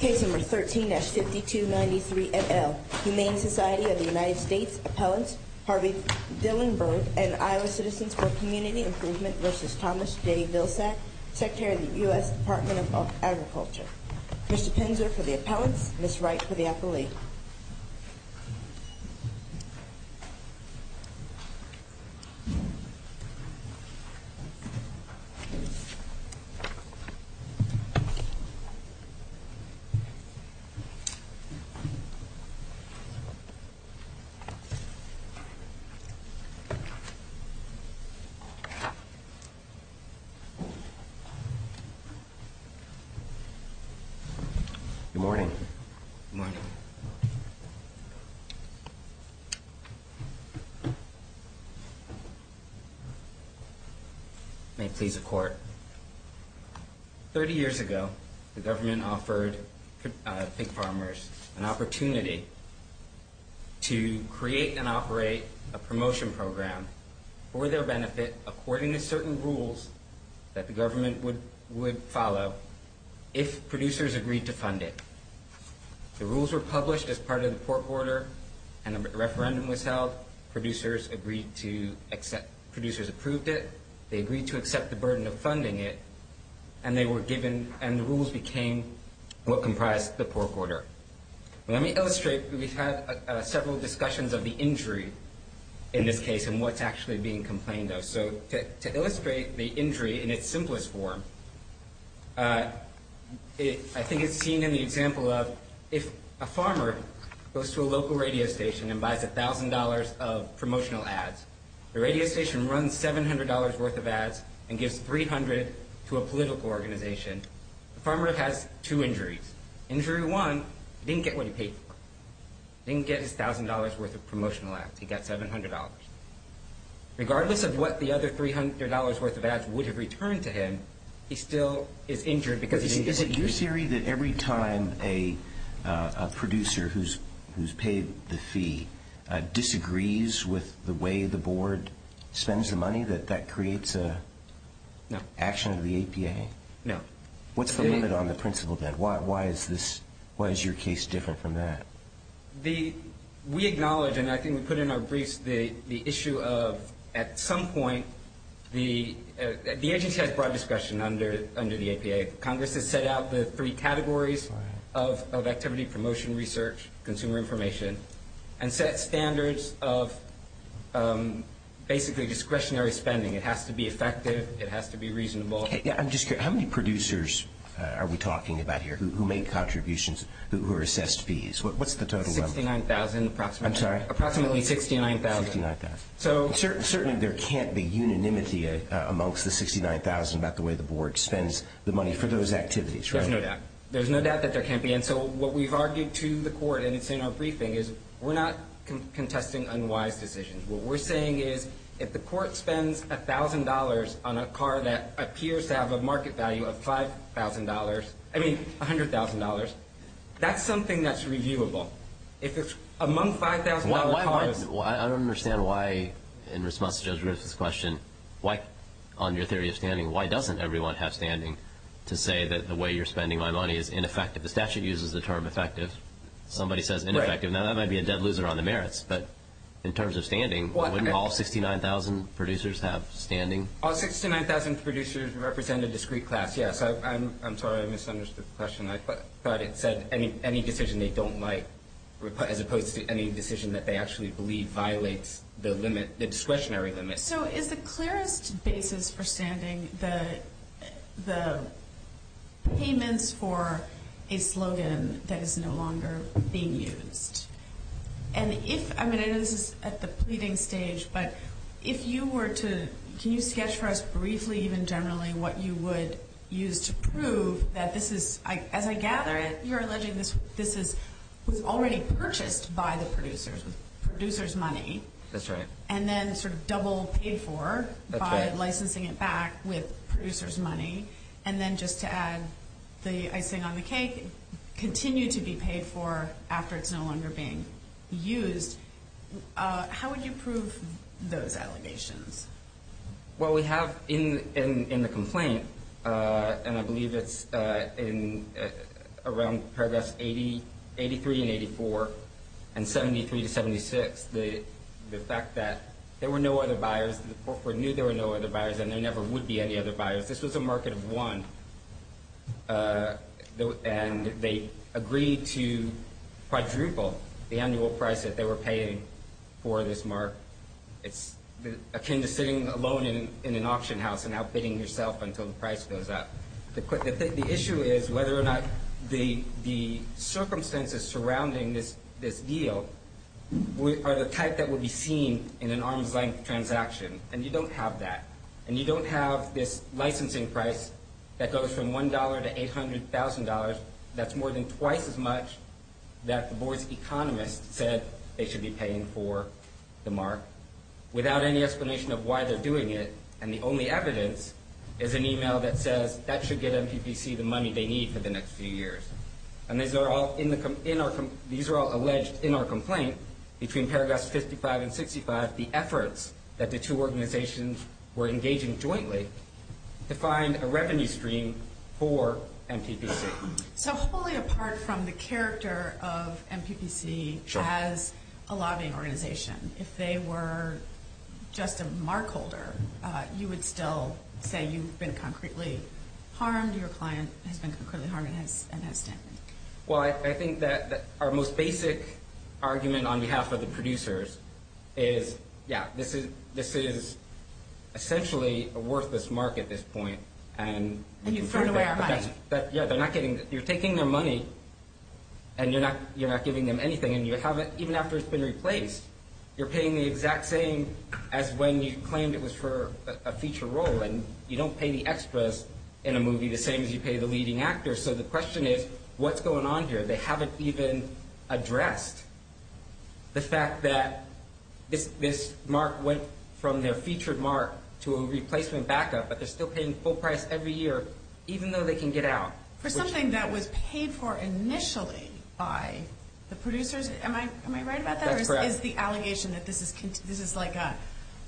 Case No. 13-5293NL Humane Society of the United States Appellants Harvey Dillenberg and Iowa Citizens for Community Improvement v. Thomas J. Vilsack Secretary of the U.S. Department of Agriculture Mr. Penzer for the appellants, Ms. Wright for the appellee Good morning. Good morning. May it please the court. Thirty years ago, the government offered pig farmers an opportunity to create and operate a promotion program for their benefit according to certain rules that the government would follow if producers agreed to fund it. The rules were published as part of the pork order and a referendum was held. Producers approved it. They agreed to accept the burden of funding it, and the rules became what comprised the pork order. Let me illustrate. We've had several discussions of the injury in this case and what's actually being complained of. So to illustrate the injury in its simplest form, I think it's seen in the example of if a farmer goes to a local radio station and buys $1,000 of promotional ads, the radio station runs $700 worth of ads and gives $300 to a political organization. The farmer has two injuries. Injury one, he didn't get what he paid for. He didn't get his $1,000 worth of promotional ads. He got $700. Regardless of what the other $300 worth of ads would have returned to him, he still is injured because he didn't get what he paid for. Is it your theory that every time a producer who's paid the fee disagrees with the way the board spends the money, that that creates an action of the APA? No. What's the limit on the principal debt? Why is your case different from that? We acknowledge, and I think we put in our briefs, the issue of at some point the agency has broad discretion under the APA. Congress has set out the three categories of activity, promotion, research, consumer information, and set standards of basically discretionary spending. It has to be effective. It has to be reasonable. I'm just curious. How many producers are we talking about here who make contributions who are assessed fees? What's the total number? 69,000 approximately. I'm sorry? Approximately 69,000. Certainly there can't be unanimity amongst the 69,000 about the way the board spends the money for those activities, right? There's no doubt. There's no doubt that there can't be. And so what we've argued to the court, and it's in our briefing, is we're not contesting unwise decisions. What we're saying is if the court spends $1,000 on a car that appears to have a market value of $5,000, I mean $100,000, that's something that's reviewable. If it's among $5,000 cars. I don't understand why, in response to Judge Griffith's question, on your theory of standing, why doesn't everyone have standing to say that the way you're spending my money is ineffective? The statute uses the term effective. Somebody says ineffective. Now, that might be a dead loser on the merits. But in terms of standing, wouldn't all 69,000 producers have standing? All 69,000 producers represent a discrete class, yes. I'm sorry I misunderstood the question. I thought it said any decision they don't like as opposed to any decision that they actually believe violates the discretionary limit. So is the clearest basis for standing the payments for a slogan that is no longer being used? And if, I mean, I know this is at the pleading stage, but if you were to, can you sketch for us briefly, even generally, what you would use to prove that this is, as I gather it, you're alleging this was already purchased by the producers with producers' money. That's right. And then sort of double paid for by licensing it back with producers' money. And then just to add the icing on the cake, continue to be paid for after it's no longer being used. How would you prove those allegations? Well, we have in the complaint, and I believe it's in around paragraphs 83 and 84, and 73 to 76, the fact that there were no other buyers, the corporate knew there were no other buyers, and there never would be any other buyers. This was a market of one, and they agreed to quadruple the annual price that they were paying for this mark. It's akin to sitting alone in an auction house and outbidding yourself until the price goes up. The issue is whether or not the circumstances surrounding this deal are the type that would be seen in an arm's-length transaction. And you don't have that. And you don't have this licensing price that goes from $1 to $800,000. That's more than twice as much that the board's economist said they should be paying for the mark without any explanation of why they're doing it. And the only evidence is an email that says that should get MPPC the money they need for the next few years. And these are all alleged in our complaint between paragraphs 55 and 65, the efforts that the two organizations were engaging jointly to find a revenue stream for MPPC. So wholly apart from the character of MPPC as a lobbying organization, if they were just a mark holder, you would still say you've been concretely harmed, your client has been concretely harmed, and has stamped it. Well, I think that our most basic argument on behalf of the producers is, yeah, this is essentially a worthless mark at this point. And you've thrown away our money. Yeah, you're taking their money and you're not giving them anything. And even after it's been replaced, you're paying the exact same as when you claimed it was for a feature role. And you don't pay the extras in a movie the same as you pay the leading actors. So the question is, what's going on here? They haven't even addressed the fact that this mark went from their featured mark to a replacement backup, but they're still paying full price every year, even though they can get out. For something that was paid for initially by the producers, am I right about that? That's correct. Or is the allegation that this is like a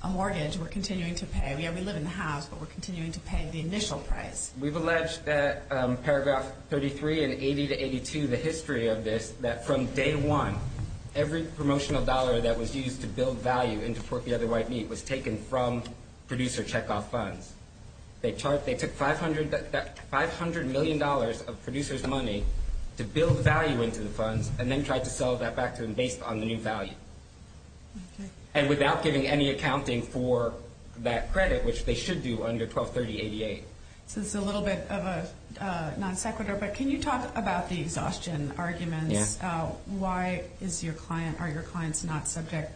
mortgage we're continuing to pay? Yeah, we live in the house, but we're continuing to pay the initial price. We've alleged that paragraph 33 and 80 to 82, the history of this, that from day one, every promotional dollar that was used to build value into Pork the Other White Meat was taken from producer checkoff funds. They took $500 million of producers' money to build value into the funds and then tried to sell that back to them based on the new value. Okay. And without giving any accounting for that credit, which they should do under 123088. So this is a little bit of a non sequitur, but can you talk about the exhaustion arguments? Yeah. Why are your clients not subject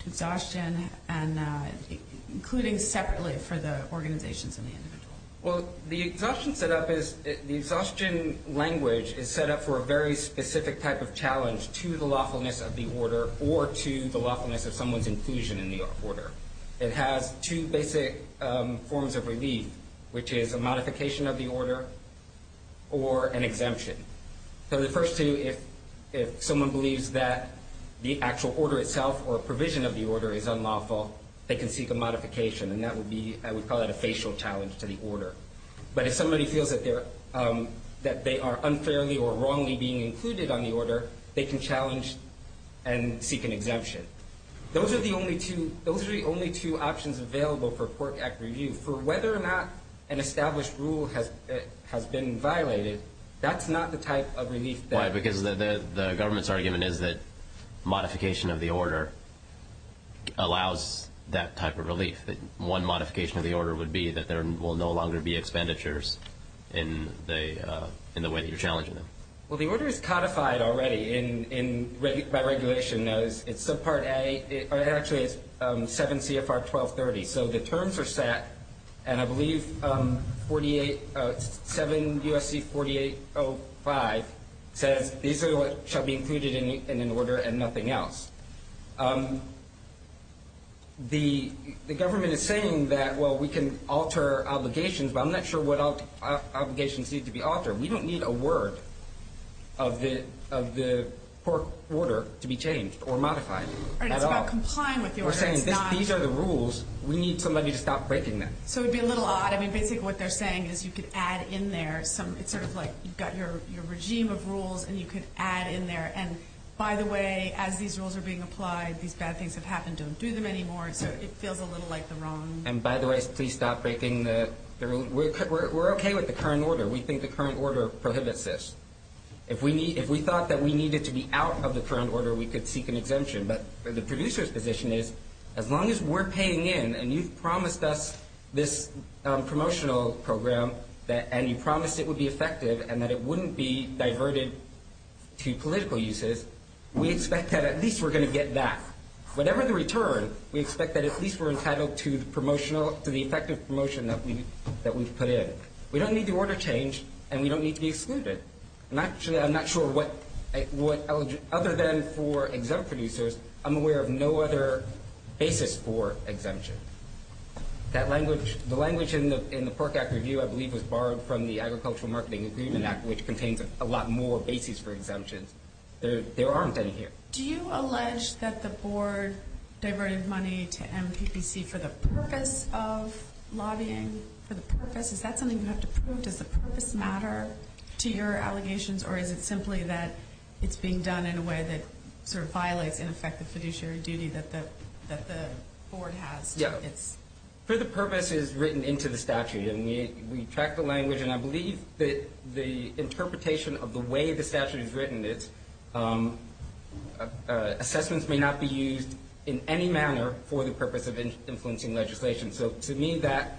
to exhaustion, including separately for the organizations and the individual? Well, the exhaustion language is set up for a very specific type of challenge to the lawfulness of the order or to the lawfulness of someone's inclusion in the order. It has two basic forms of relief, which is a modification of the order or an exemption. So the first two, if someone believes that the actual order itself or provision of the order is unlawful, they can seek a modification. And that would be, I would call it a facial challenge to the order. But if somebody feels that they are unfairly or wrongly being included on the order, they can challenge and seek an exemption. Those are the only two options available for Pork Act review. For whether or not an established rule has been violated, that's not the type of relief. Why? Because the government's argument is that modification of the order allows that type of relief. One modification of the order would be that there will no longer be expenditures in the way that you're challenging them. Well, the order is codified already by regulation. It's subpart A. Actually, it's 7 CFR 1230. So the terms are set, and I believe 7 U.S.C. 4805 says these are what shall be included in an order and nothing else. The government is saying that, well, we can alter obligations, but I'm not sure what obligations need to be altered. We don't need a word of the pork order to be changed or modified at all. We're not complying with the order. We're saying these are the rules. We need somebody to stop breaking them. So it would be a little odd. I mean, basically what they're saying is you could add in there some – it's sort of like you've got your regime of rules, and you could add in there, and by the way, as these rules are being applied, these bad things have happened. Don't do them anymore. So it feels a little like the wrong – And by the way, please stop breaking the – we're okay with the current order. We think the current order prohibits this. If we thought that we needed to be out of the current order, we could seek an exemption. But the producer's position is as long as we're paying in and you've promised us this promotional program and you promised it would be effective and that it wouldn't be diverted to political uses, we expect that at least we're going to get that. Whatever the return, we expect that at least we're entitled to the promotional – to the effective promotion that we've put in. We don't need the order changed, and we don't need to be excluded. I'm not sure what – other than for exempt producers, I'm aware of no other basis for exemption. That language – the language in the Pork Act Review, I believe, was borrowed from the Agricultural Marketing Agreement Act, which contains a lot more basis for exemptions. There aren't any here. Do you allege that the board diverted money to MPPC for the purpose of lobbying? For the purpose? Is that something you have to prove? Does the purpose matter to your allegations, or is it simply that it's being done in a way that sort of violates, in effect, the fiduciary duty that the board has to its – For the purpose is written into the statute, and we track the language, and I believe that the interpretation of the way the statute is written is assessments may not be used in any manner for the purpose of influencing legislation. So to me, that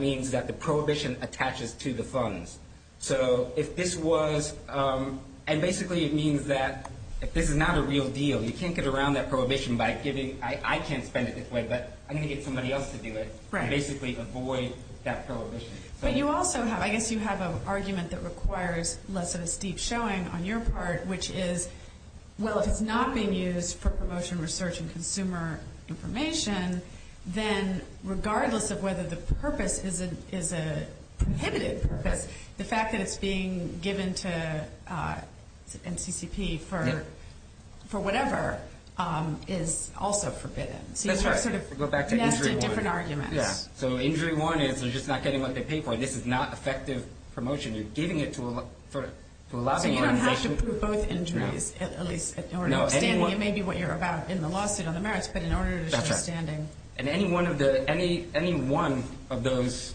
means that the prohibition attaches to the funds. So if this was – and basically it means that if this is not a real deal, you can't get around that prohibition by giving – I can't spend it this way, but I'm going to get somebody else to do it and basically avoid that prohibition. But you also have – I guess you have an argument that requires less of a steep showing on your part, which is, well, if it's not being used for promotion, research, and consumer information, then regardless of whether the purpose is a prohibited purpose, the fact that it's being given to NCCP for whatever is also forbidden. That's right. So you have sort of nested different arguments. So injury one is they're just not getting what they pay for. This is not effective promotion. You're giving it to a lobbying organization. So you don't have to prove both injuries, at least in order to – And any one of those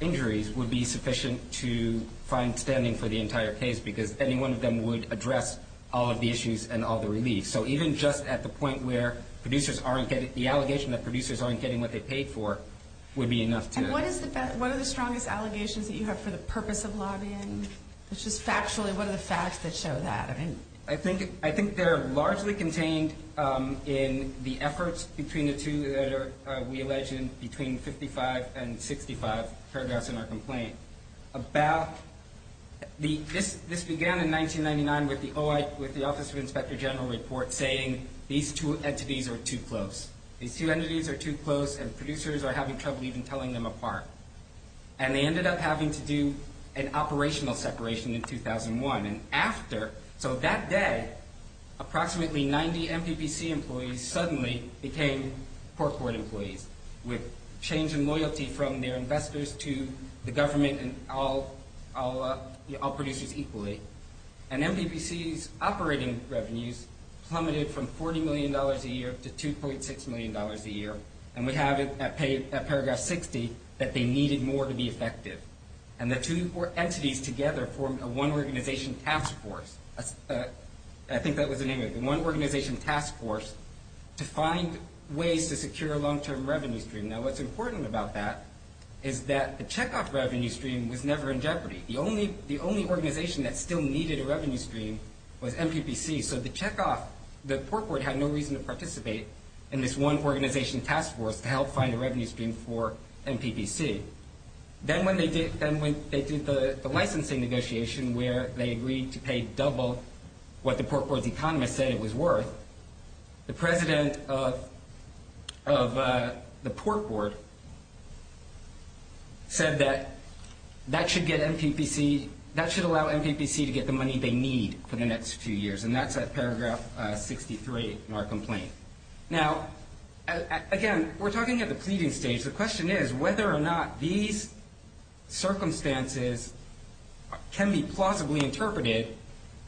injuries would be sufficient to find standing for the entire case because any one of them would address all of the issues and all the relief. So even just at the point where producers aren't getting – the allegation that producers aren't getting what they paid for would be enough to – And what are the strongest allegations that you have for the purpose of lobbying? Just factually, what are the facts that show that? I think they're largely contained in the efforts between the two that we alleged between 55 and 65 paragraphs in our complaint. This began in 1999 with the Office of Inspector General report saying these two entities are too close. These two entities are too close, and producers are having trouble even telling them apart. And they ended up having to do an operational separation in 2001. And after – so that day, approximately 90 MPPC employees suddenly became court employees with change in loyalty from their investors to the government and all producers equally. And MPPC's operating revenues plummeted from $40 million a year to $2.6 million a year. And we have it at paragraph 60 that they needed more to be effective. And the two entities together formed a one-organization task force. I think that was the name of it. The one-organization task force to find ways to secure a long-term revenue stream. Now, what's important about that is that the Chekhov revenue stream was never in jeopardy. The only organization that still needed a revenue stream was MPPC. So the Chekhov – the Port Board had no reason to participate in this one-organization task force to help find a revenue stream for MPPC. Then when they did the licensing negotiation where they agreed to pay double what the Port Board's economists said it was worth, the president of the Port Board said that that should get MPPC – that should allow MPPC to get the money they need for the next few years. And that's at paragraph 63 in our complaint. Now, again, we're talking at the pleading stage. The question is whether or not these circumstances can be plausibly interpreted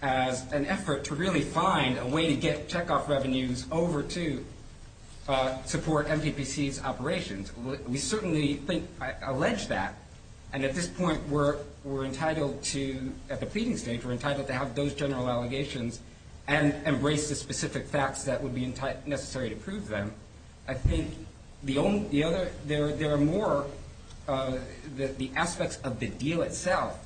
as an effort to really find a way to get Chekhov revenues over to support MPPC's operations. We certainly think – allege that. And at this point, we're entitled to – at the pleading stage, we're entitled to have those general allegations and embrace the specific facts that would be necessary to prove them. I think the only – the other – there are more – the aspects of the deal itself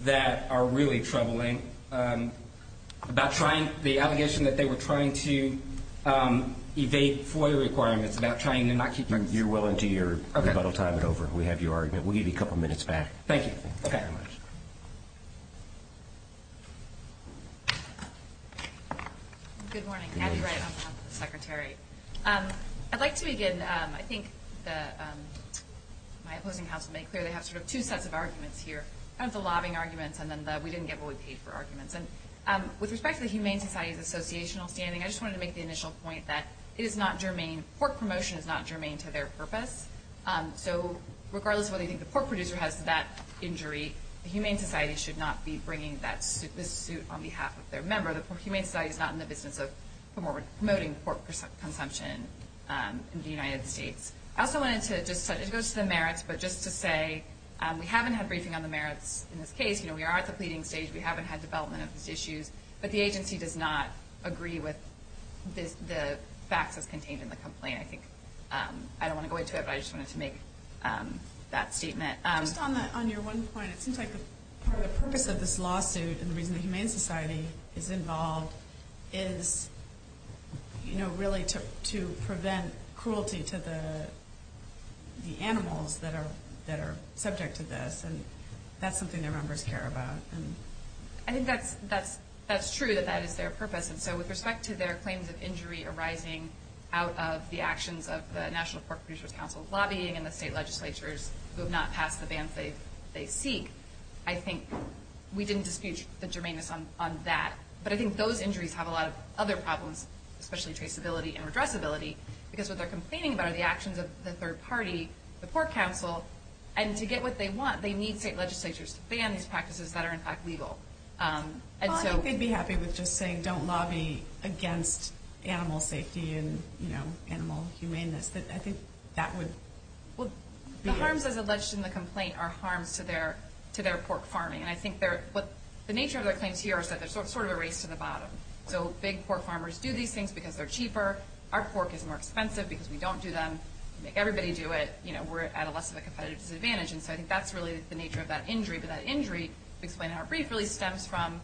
that are really troubling, about trying – the allegation that they were trying to evade FOIA requirements, about trying to not keep – You're willing to – your rebuttal time is over. We have your argument. We'll give you a couple minutes back. Thank you. Okay. Thank you very much. Good morning. Abby Wright, on behalf of the Secretary. I'd like to begin – I think the – my opposing house will make clear they have sort of two sets of arguments here, kind of the lobbying arguments and then the we didn't get what we paid for arguments. And with respect to the Humane Society's associational standing, I just wanted to make the initial point that it is not germane – pork promotion is not germane to their purpose. So regardless of whether you think the pork producer has that injury, the Humane Society should not be bringing that – this suit on behalf of their member. The Humane Society is not in the business of promoting pork consumption in the United States. I also wanted to just – it goes to the merits, but just to say we haven't had briefing on the merits in this case. We are at the pleading stage. We haven't had development of these issues. But the agency does not agree with the facts as contained in the complaint. I think – I don't want to go into it, but I just wanted to make that statement. Just on your one point, it seems like part of the purpose of this lawsuit and the reason the Humane Society is involved is, you know, really to prevent cruelty to the animals that are subject to this. And that's something their members care about. I think that's true, that that is their purpose. And so with respect to their claims of injury arising out of the actions of the National Pork Producers Council lobbying and the state legislatures who have not passed the bans they seek, I think we didn't dispute the germaneness on that. But I think those injuries have a lot of other problems, especially traceability and redressability, because what they're complaining about are the actions of the third party, the Pork Council. And to get what they want, they need state legislatures to ban these practices that are, in fact, legal. Well, I think they'd be happy with just saying, don't lobby against animal safety and animal humaneness. I think that would be it. Well, the harms as alleged in the complaint are harms to their pork farming. And I think what the nature of their claims here is that there's sort of a race to the bottom. So big pork farmers do these things because they're cheaper. Our pork is more expensive because we don't do them. We make everybody do it. We're at a less of a competitive disadvantage. And so I think that's really the nature of that injury. But that injury, explained in our brief, really stems from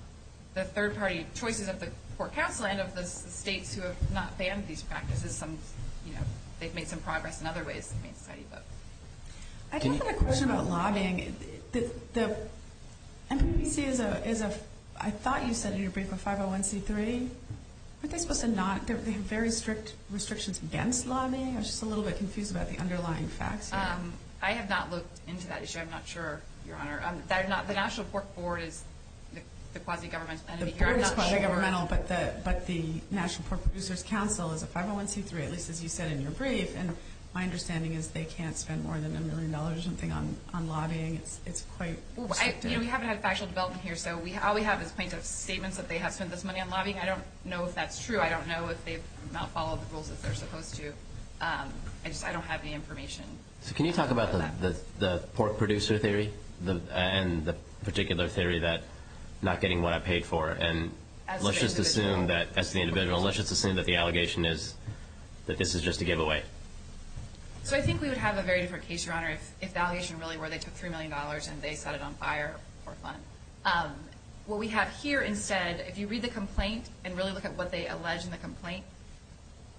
the third party choices of the Pork Council and of the states who have not banned these practices. They've made some progress in other ways. I do have a question about lobbying. MPPC is a, I thought you said in your brief, a 501c3. Aren't they supposed to not? They have very strict restrictions against lobbying. I was just a little bit confused about the underlying facts. I have not looked into that issue. I'm not sure, Your Honor. The National Pork Board is the quasi-governmental entity here. I'm not sure. The board is quasi-governmental, but the National Pork Producers Council is a 501c3, at least as you said in your brief. And my understanding is they can't spend more than a million dollars or something on lobbying. It's quite strict. You know, we haven't had a factual development here. So all we have is plaintiff's statements that they have spent this money on lobbying. I don't know if that's true. I don't know if they've not followed the rules as they're supposed to. I just don't have any information. So can you talk about the pork producer theory and the particular theory that not getting what I paid for? And let's just assume that, as the individual, let's just assume that the allegation is that this is just a giveaway. So I think we would have a very different case, Your Honor, if the allegation really were they took $3 million and they set it on fire for fun. What we have here instead, if you read the complaint and really look at what they allege in the complaint,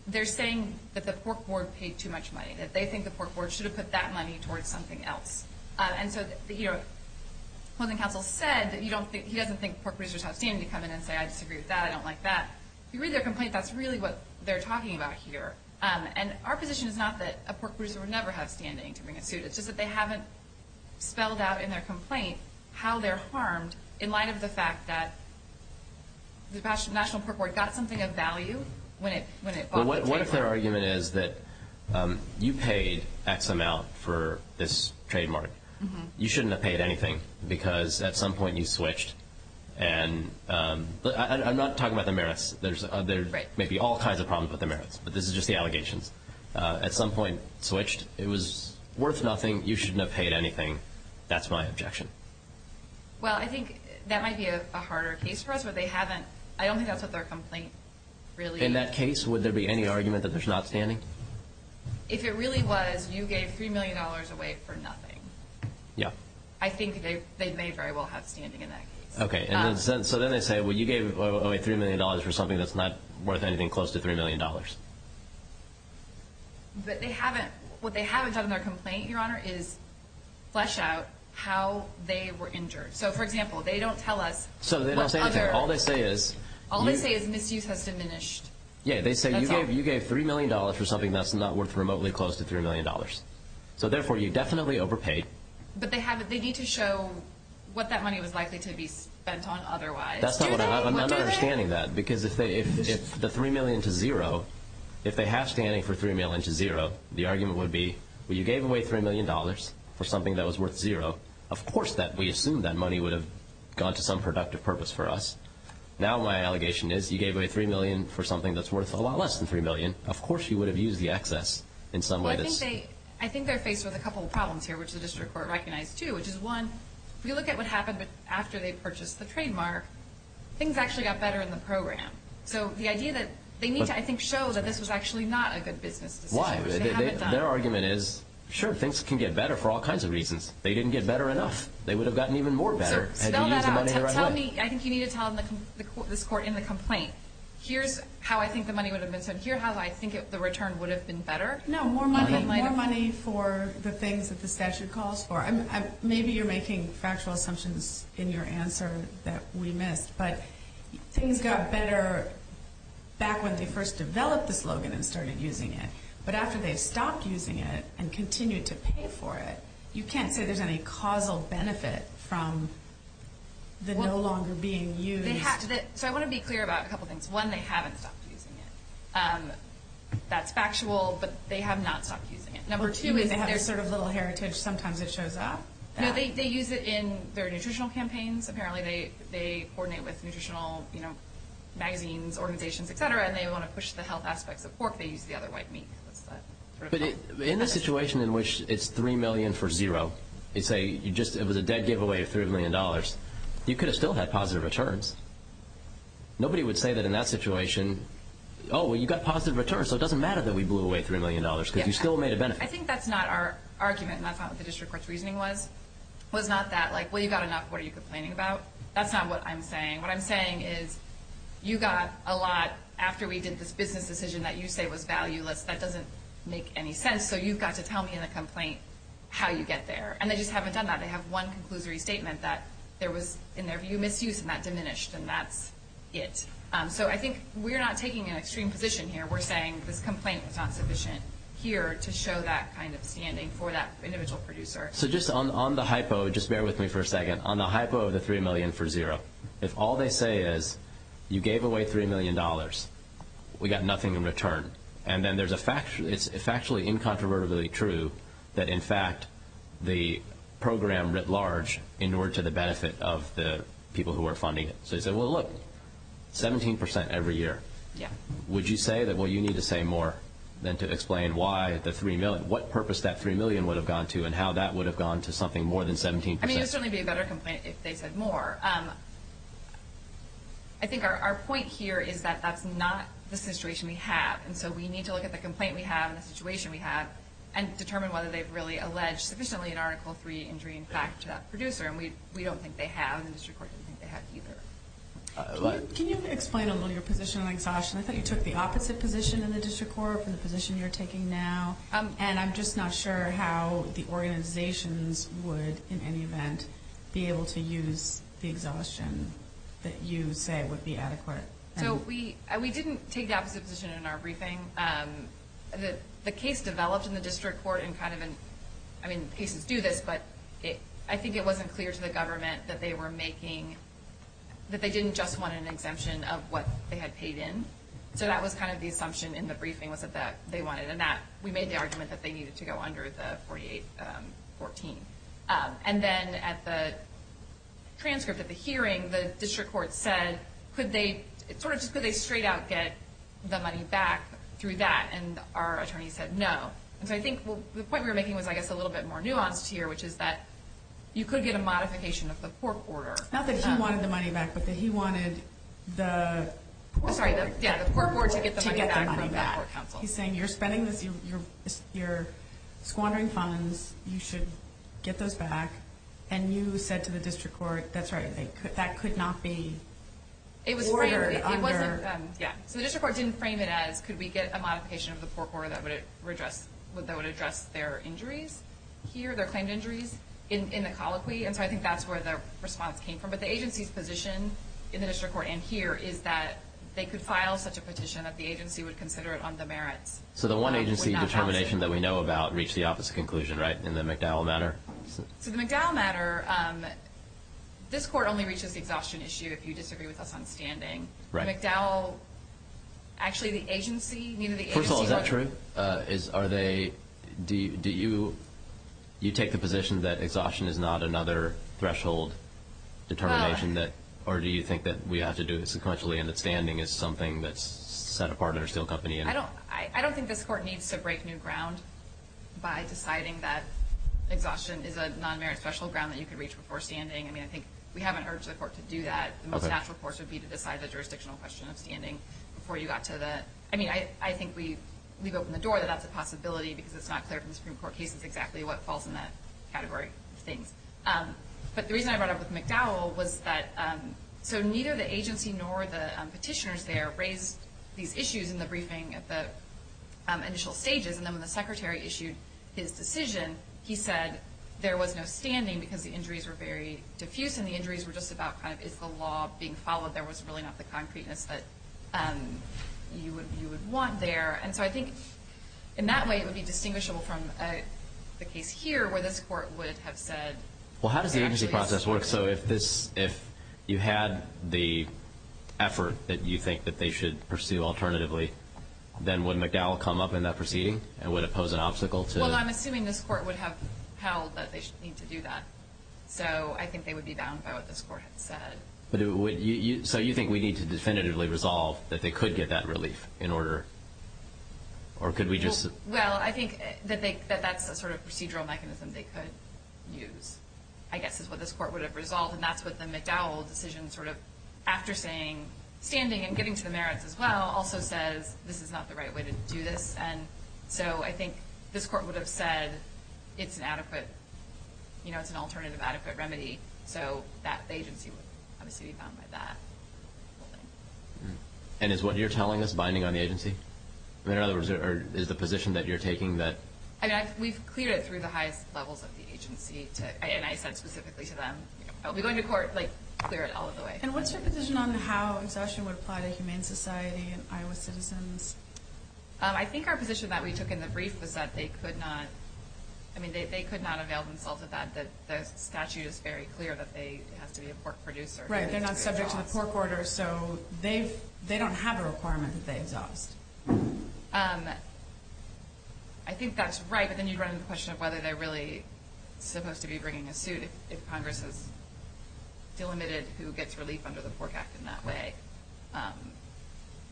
they're saying that the pork board paid too much money, that they think the pork board should have put that money towards something else. And so the closing counsel said that he doesn't think pork producers have standing to come in and say, I disagree with that, I don't like that. If you read their complaint, that's really what they're talking about here. And our position is not that a pork producer would never have standing to bring a suit. It's just that they haven't spelled out in their complaint how they're harmed in light of the fact that the National Pork Board got something of value when it bought the trademark. Well, what if their argument is that you paid X amount for this trademark. You shouldn't have paid anything because at some point you switched. And I'm not talking about the merits. There may be all kinds of problems with the merits, but this is just the allegations. At some point, switched. It was worth nothing. You shouldn't have paid anything. That's my objection. Well, I think that might be a harder case for us. I don't think that's what their complaint really is. In that case, would there be any argument that there's not standing? If it really was, you gave $3 million away for nothing. Yeah. I think they may very well have standing in that case. Okay. So then they say, well, you gave away $3 million for something that's not worth anything close to $3 million. But they haven't. What they haven't done in their complaint, Your Honor, is flesh out how they were injured. So, for example, they don't tell us. So they don't say anything. All they say is. All they say is misuse has diminished. Yeah. They say you gave $3 million for something that's not worth remotely close to $3 million. So, therefore, you definitely overpaid. But they need to show what that money was likely to be spent on otherwise. I'm not understanding that. Because if the $3 million to $0, if they have standing for $3 million to $0, the argument would be, well, you gave away $3 million for something that was worth $0. Of course we assume that money would have gone to some productive purpose for us. Now my allegation is you gave away $3 million for something that's worth a lot less than $3 million. Of course you would have used the excess in some way. Well, I think they're faced with a couple of problems here, which the district court recognized too. Which is, one, if you look at what happened after they purchased the trademark, things actually got better in the program. So the idea that they need to, I think, show that this was actually not a good business decision. Why? Their argument is, sure, things can get better for all kinds of reasons. They didn't get better enough. They would have gotten even more better had you used the money the right way. Spell that out. Tell me. I think you need to tell this court in the complaint, here's how I think the money would have been spent. Here's how I think the return would have been better. No, more money for the things that the statute calls for. Maybe you're making factual assumptions in your answer that we missed. But things got better back when they first developed the slogan and started using it. But after they stopped using it and continued to pay for it, you can't say there's any causal benefit from the no longer being used. So I want to be clear about a couple things. One, they haven't stopped using it. That's factual, but they have not stopped using it. Number two is they have sort of little heritage. Sometimes it shows up. They use it in their nutritional campaigns. Apparently they coordinate with nutritional magazines, organizations, et cetera, and they want to push the health aspects of pork. They use the other white meat. But in the situation in which it's $3 million for zero, it was a dead giveaway of $3 million, you could have still had positive returns. Nobody would say that in that situation, oh, well, you got a positive return, so it doesn't matter that we blew away $3 million because you still made a benefit. I think that's not our argument, and that's not what the district court's reasoning was. It was not that, like, well, you got enough, what are you complaining about? That's not what I'm saying. What I'm saying is you got a lot after we did this business decision that you say was valueless. That doesn't make any sense, so you've got to tell me in a complaint how you get there. And they just haven't done that. They have one conclusory statement that there was, in their view, misuse, and that diminished, and that's it. So I think we're not taking an extreme position here. We're saying this complaint was not sufficient here to show that kind of standing for that individual producer. So just on the hypo, just bear with me for a second, on the hypo of the $3 million for zero, if all they say is you gave away $3 million, we got nothing in return, and then it's factually incontrovertibly true that, in fact, the program writ large in order to the benefit of the people who are funding it. So you say, well, look, 17% every year. Yeah. Would you say that, well, you need to say more than to explain why the $3 million, what purpose that $3 million would have gone to and how that would have gone to something more than 17%? I mean, it would certainly be a better complaint if they said more. I think our point here is that that's not the situation we have, and so we need to look at the complaint we have and the situation we have and determine whether they've really alleged sufficiently in Article III injury in fact to that producer, and we don't think they have, and the district court doesn't think they have either. Can you explain a little your position on exhaustion? I thought you took the opposite position in the district court from the position you're taking now, and I'm just not sure how the organizations would, in any event, be able to use the exhaustion that you say would be adequate. So we didn't take the opposite position in our briefing. The case developed in the district court in kind of an – I mean, cases do this, but I think it wasn't clear to the government that they were making – that they didn't just want an exemption of what they had paid in. So that was kind of the assumption in the briefing was that they wanted, and that we made the argument that they needed to go under the 4814. And then at the transcript of the hearing, the district court said, could they – sort of just could they straight out get the money back through that, and our attorney said no. And so I think the point we were making was, I guess, a little bit more nuanced here, which is that you could get a modification of the court order. Not that he wanted the money back, but that he wanted the – I'm sorry, yeah, the court order to get the money back from the court counsel. He's saying you're spending this – you're squandering funds. You should get those back. And you said to the district court, that's right, that could not be ordered under – Yeah, so the district court didn't frame it as, could we get a modification of the court order that would address their injuries here, their claimed injuries in the colloquy. And so I think that's where the response came from. But the agency's position in the district court and here is that they could file such a petition that the agency would consider it on the merits. So the one agency determination that we know about reached the opposite conclusion, right, in the McDowell matter? So the McDowell matter, this court only reaches the exhaustion issue if you disagree with us on standing. McDowell, actually the agency – First of all, is that true? Are they – do you take the position that exhaustion is not another threshold determination or do you think that we have to do it sequentially and that standing is something that's set apart under steel company? I don't think this court needs to break new ground by deciding that exhaustion is a non-merit threshold ground that you can reach before standing. I mean, I think we haven't urged the court to do that. The most natural course would be to decide the jurisdictional question of standing before you got to the – I mean, I think we've opened the door that that's a possibility because it's not clear from the Supreme Court cases exactly what falls in that category of things. But the reason I brought up with McDowell was that – so neither the agency nor the petitioners there raised these issues in the briefing at the initial stages. And then when the Secretary issued his decision, he said there was no standing because the injuries were very diffuse and the injuries were just about kind of is the law being followed. There was really not the concreteness that you would want there. And so I think in that way it would be distinguishable from the case here where this court would have said – Well, how does the agency process work? So if this – if you had the effort that you think that they should pursue alternatively, then would McDowell come up in that proceeding and would it pose an obstacle to – Well, I'm assuming this court would have held that they need to do that. So I think they would be bound by what this court had said. So you think we need to definitively resolve that they could get that relief in order – or could we just – Well, I think that that's a sort of procedural mechanism they could use, I guess, is what this court would have resolved. And that's what the McDowell decision sort of after saying – standing and getting to the merits as well also says this is not the right way to do this. And so I think this court would have said it's an adequate – you know, it's an alternative adequate remedy. So that agency would obviously be bound by that. And is what you're telling us binding on the agency? In other words, is the position that you're taking that – I mean, we've cleared it through the highest levels of the agency, and I said specifically to them, I'll be going to court, like, clear it all the way. And what's your position on how exhaustion would apply to humane society and Iowa citizens? I think our position that we took in the brief was that they could not – I mean, they could not avail themselves of that. The statute is very clear that they have to be a pork producer. Right. They're not subject to the pork order, so they don't have a requirement that they exhaust. I think that's right, but then you run into the question of whether they're really supposed to be bringing a suit if Congress has delimited who gets relief under the Pork Act in that way.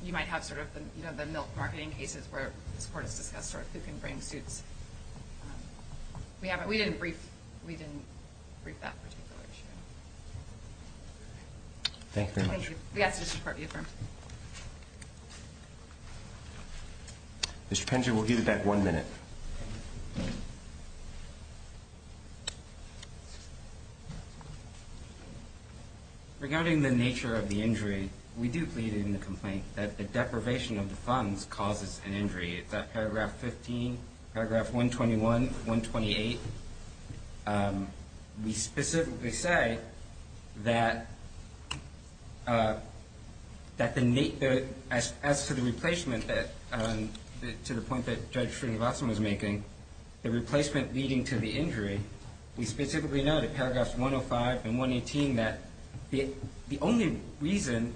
You might have sort of the milk marketing cases where this Court has discussed sort of who can bring suits. We haven't – we didn't brief that particular issue. Thank you very much. Thank you. We ask that this report be affirmed. Mr. Pender, we'll give you back one minute. Thank you. Regarding the nature of the injury, we do plead in the complaint that the deprivation of the funds causes an injury. It's at paragraph 15, paragraph 121, 128. We specifically say that the – as to the replacement that – to the point that Judge Srinivasan was making, the replacement leading to the injury, we specifically note in paragraphs 105 and 118 that the only reason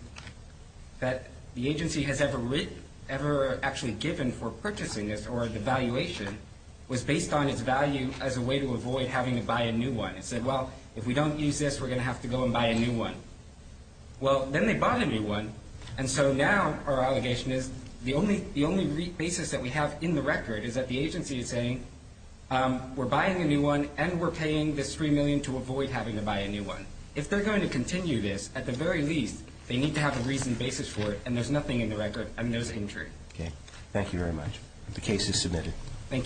that the agency has ever actually given for purchasing this or the valuation was based on its value as a way to avoid having to buy a new one. It said, well, if we don't use this, we're going to have to go and buy a new one. Well, then they bought a new one, and so now our allegation is the only basis that we have in the record is that the agency is saying we're buying a new one and we're paying this $3 million to avoid having to buy a new one. If they're going to continue this, at the very least, they need to have a reasoned basis for it, and there's nothing in the record. I mean, there's injury. Okay. Thank you very much. The case is submitted. Thank you.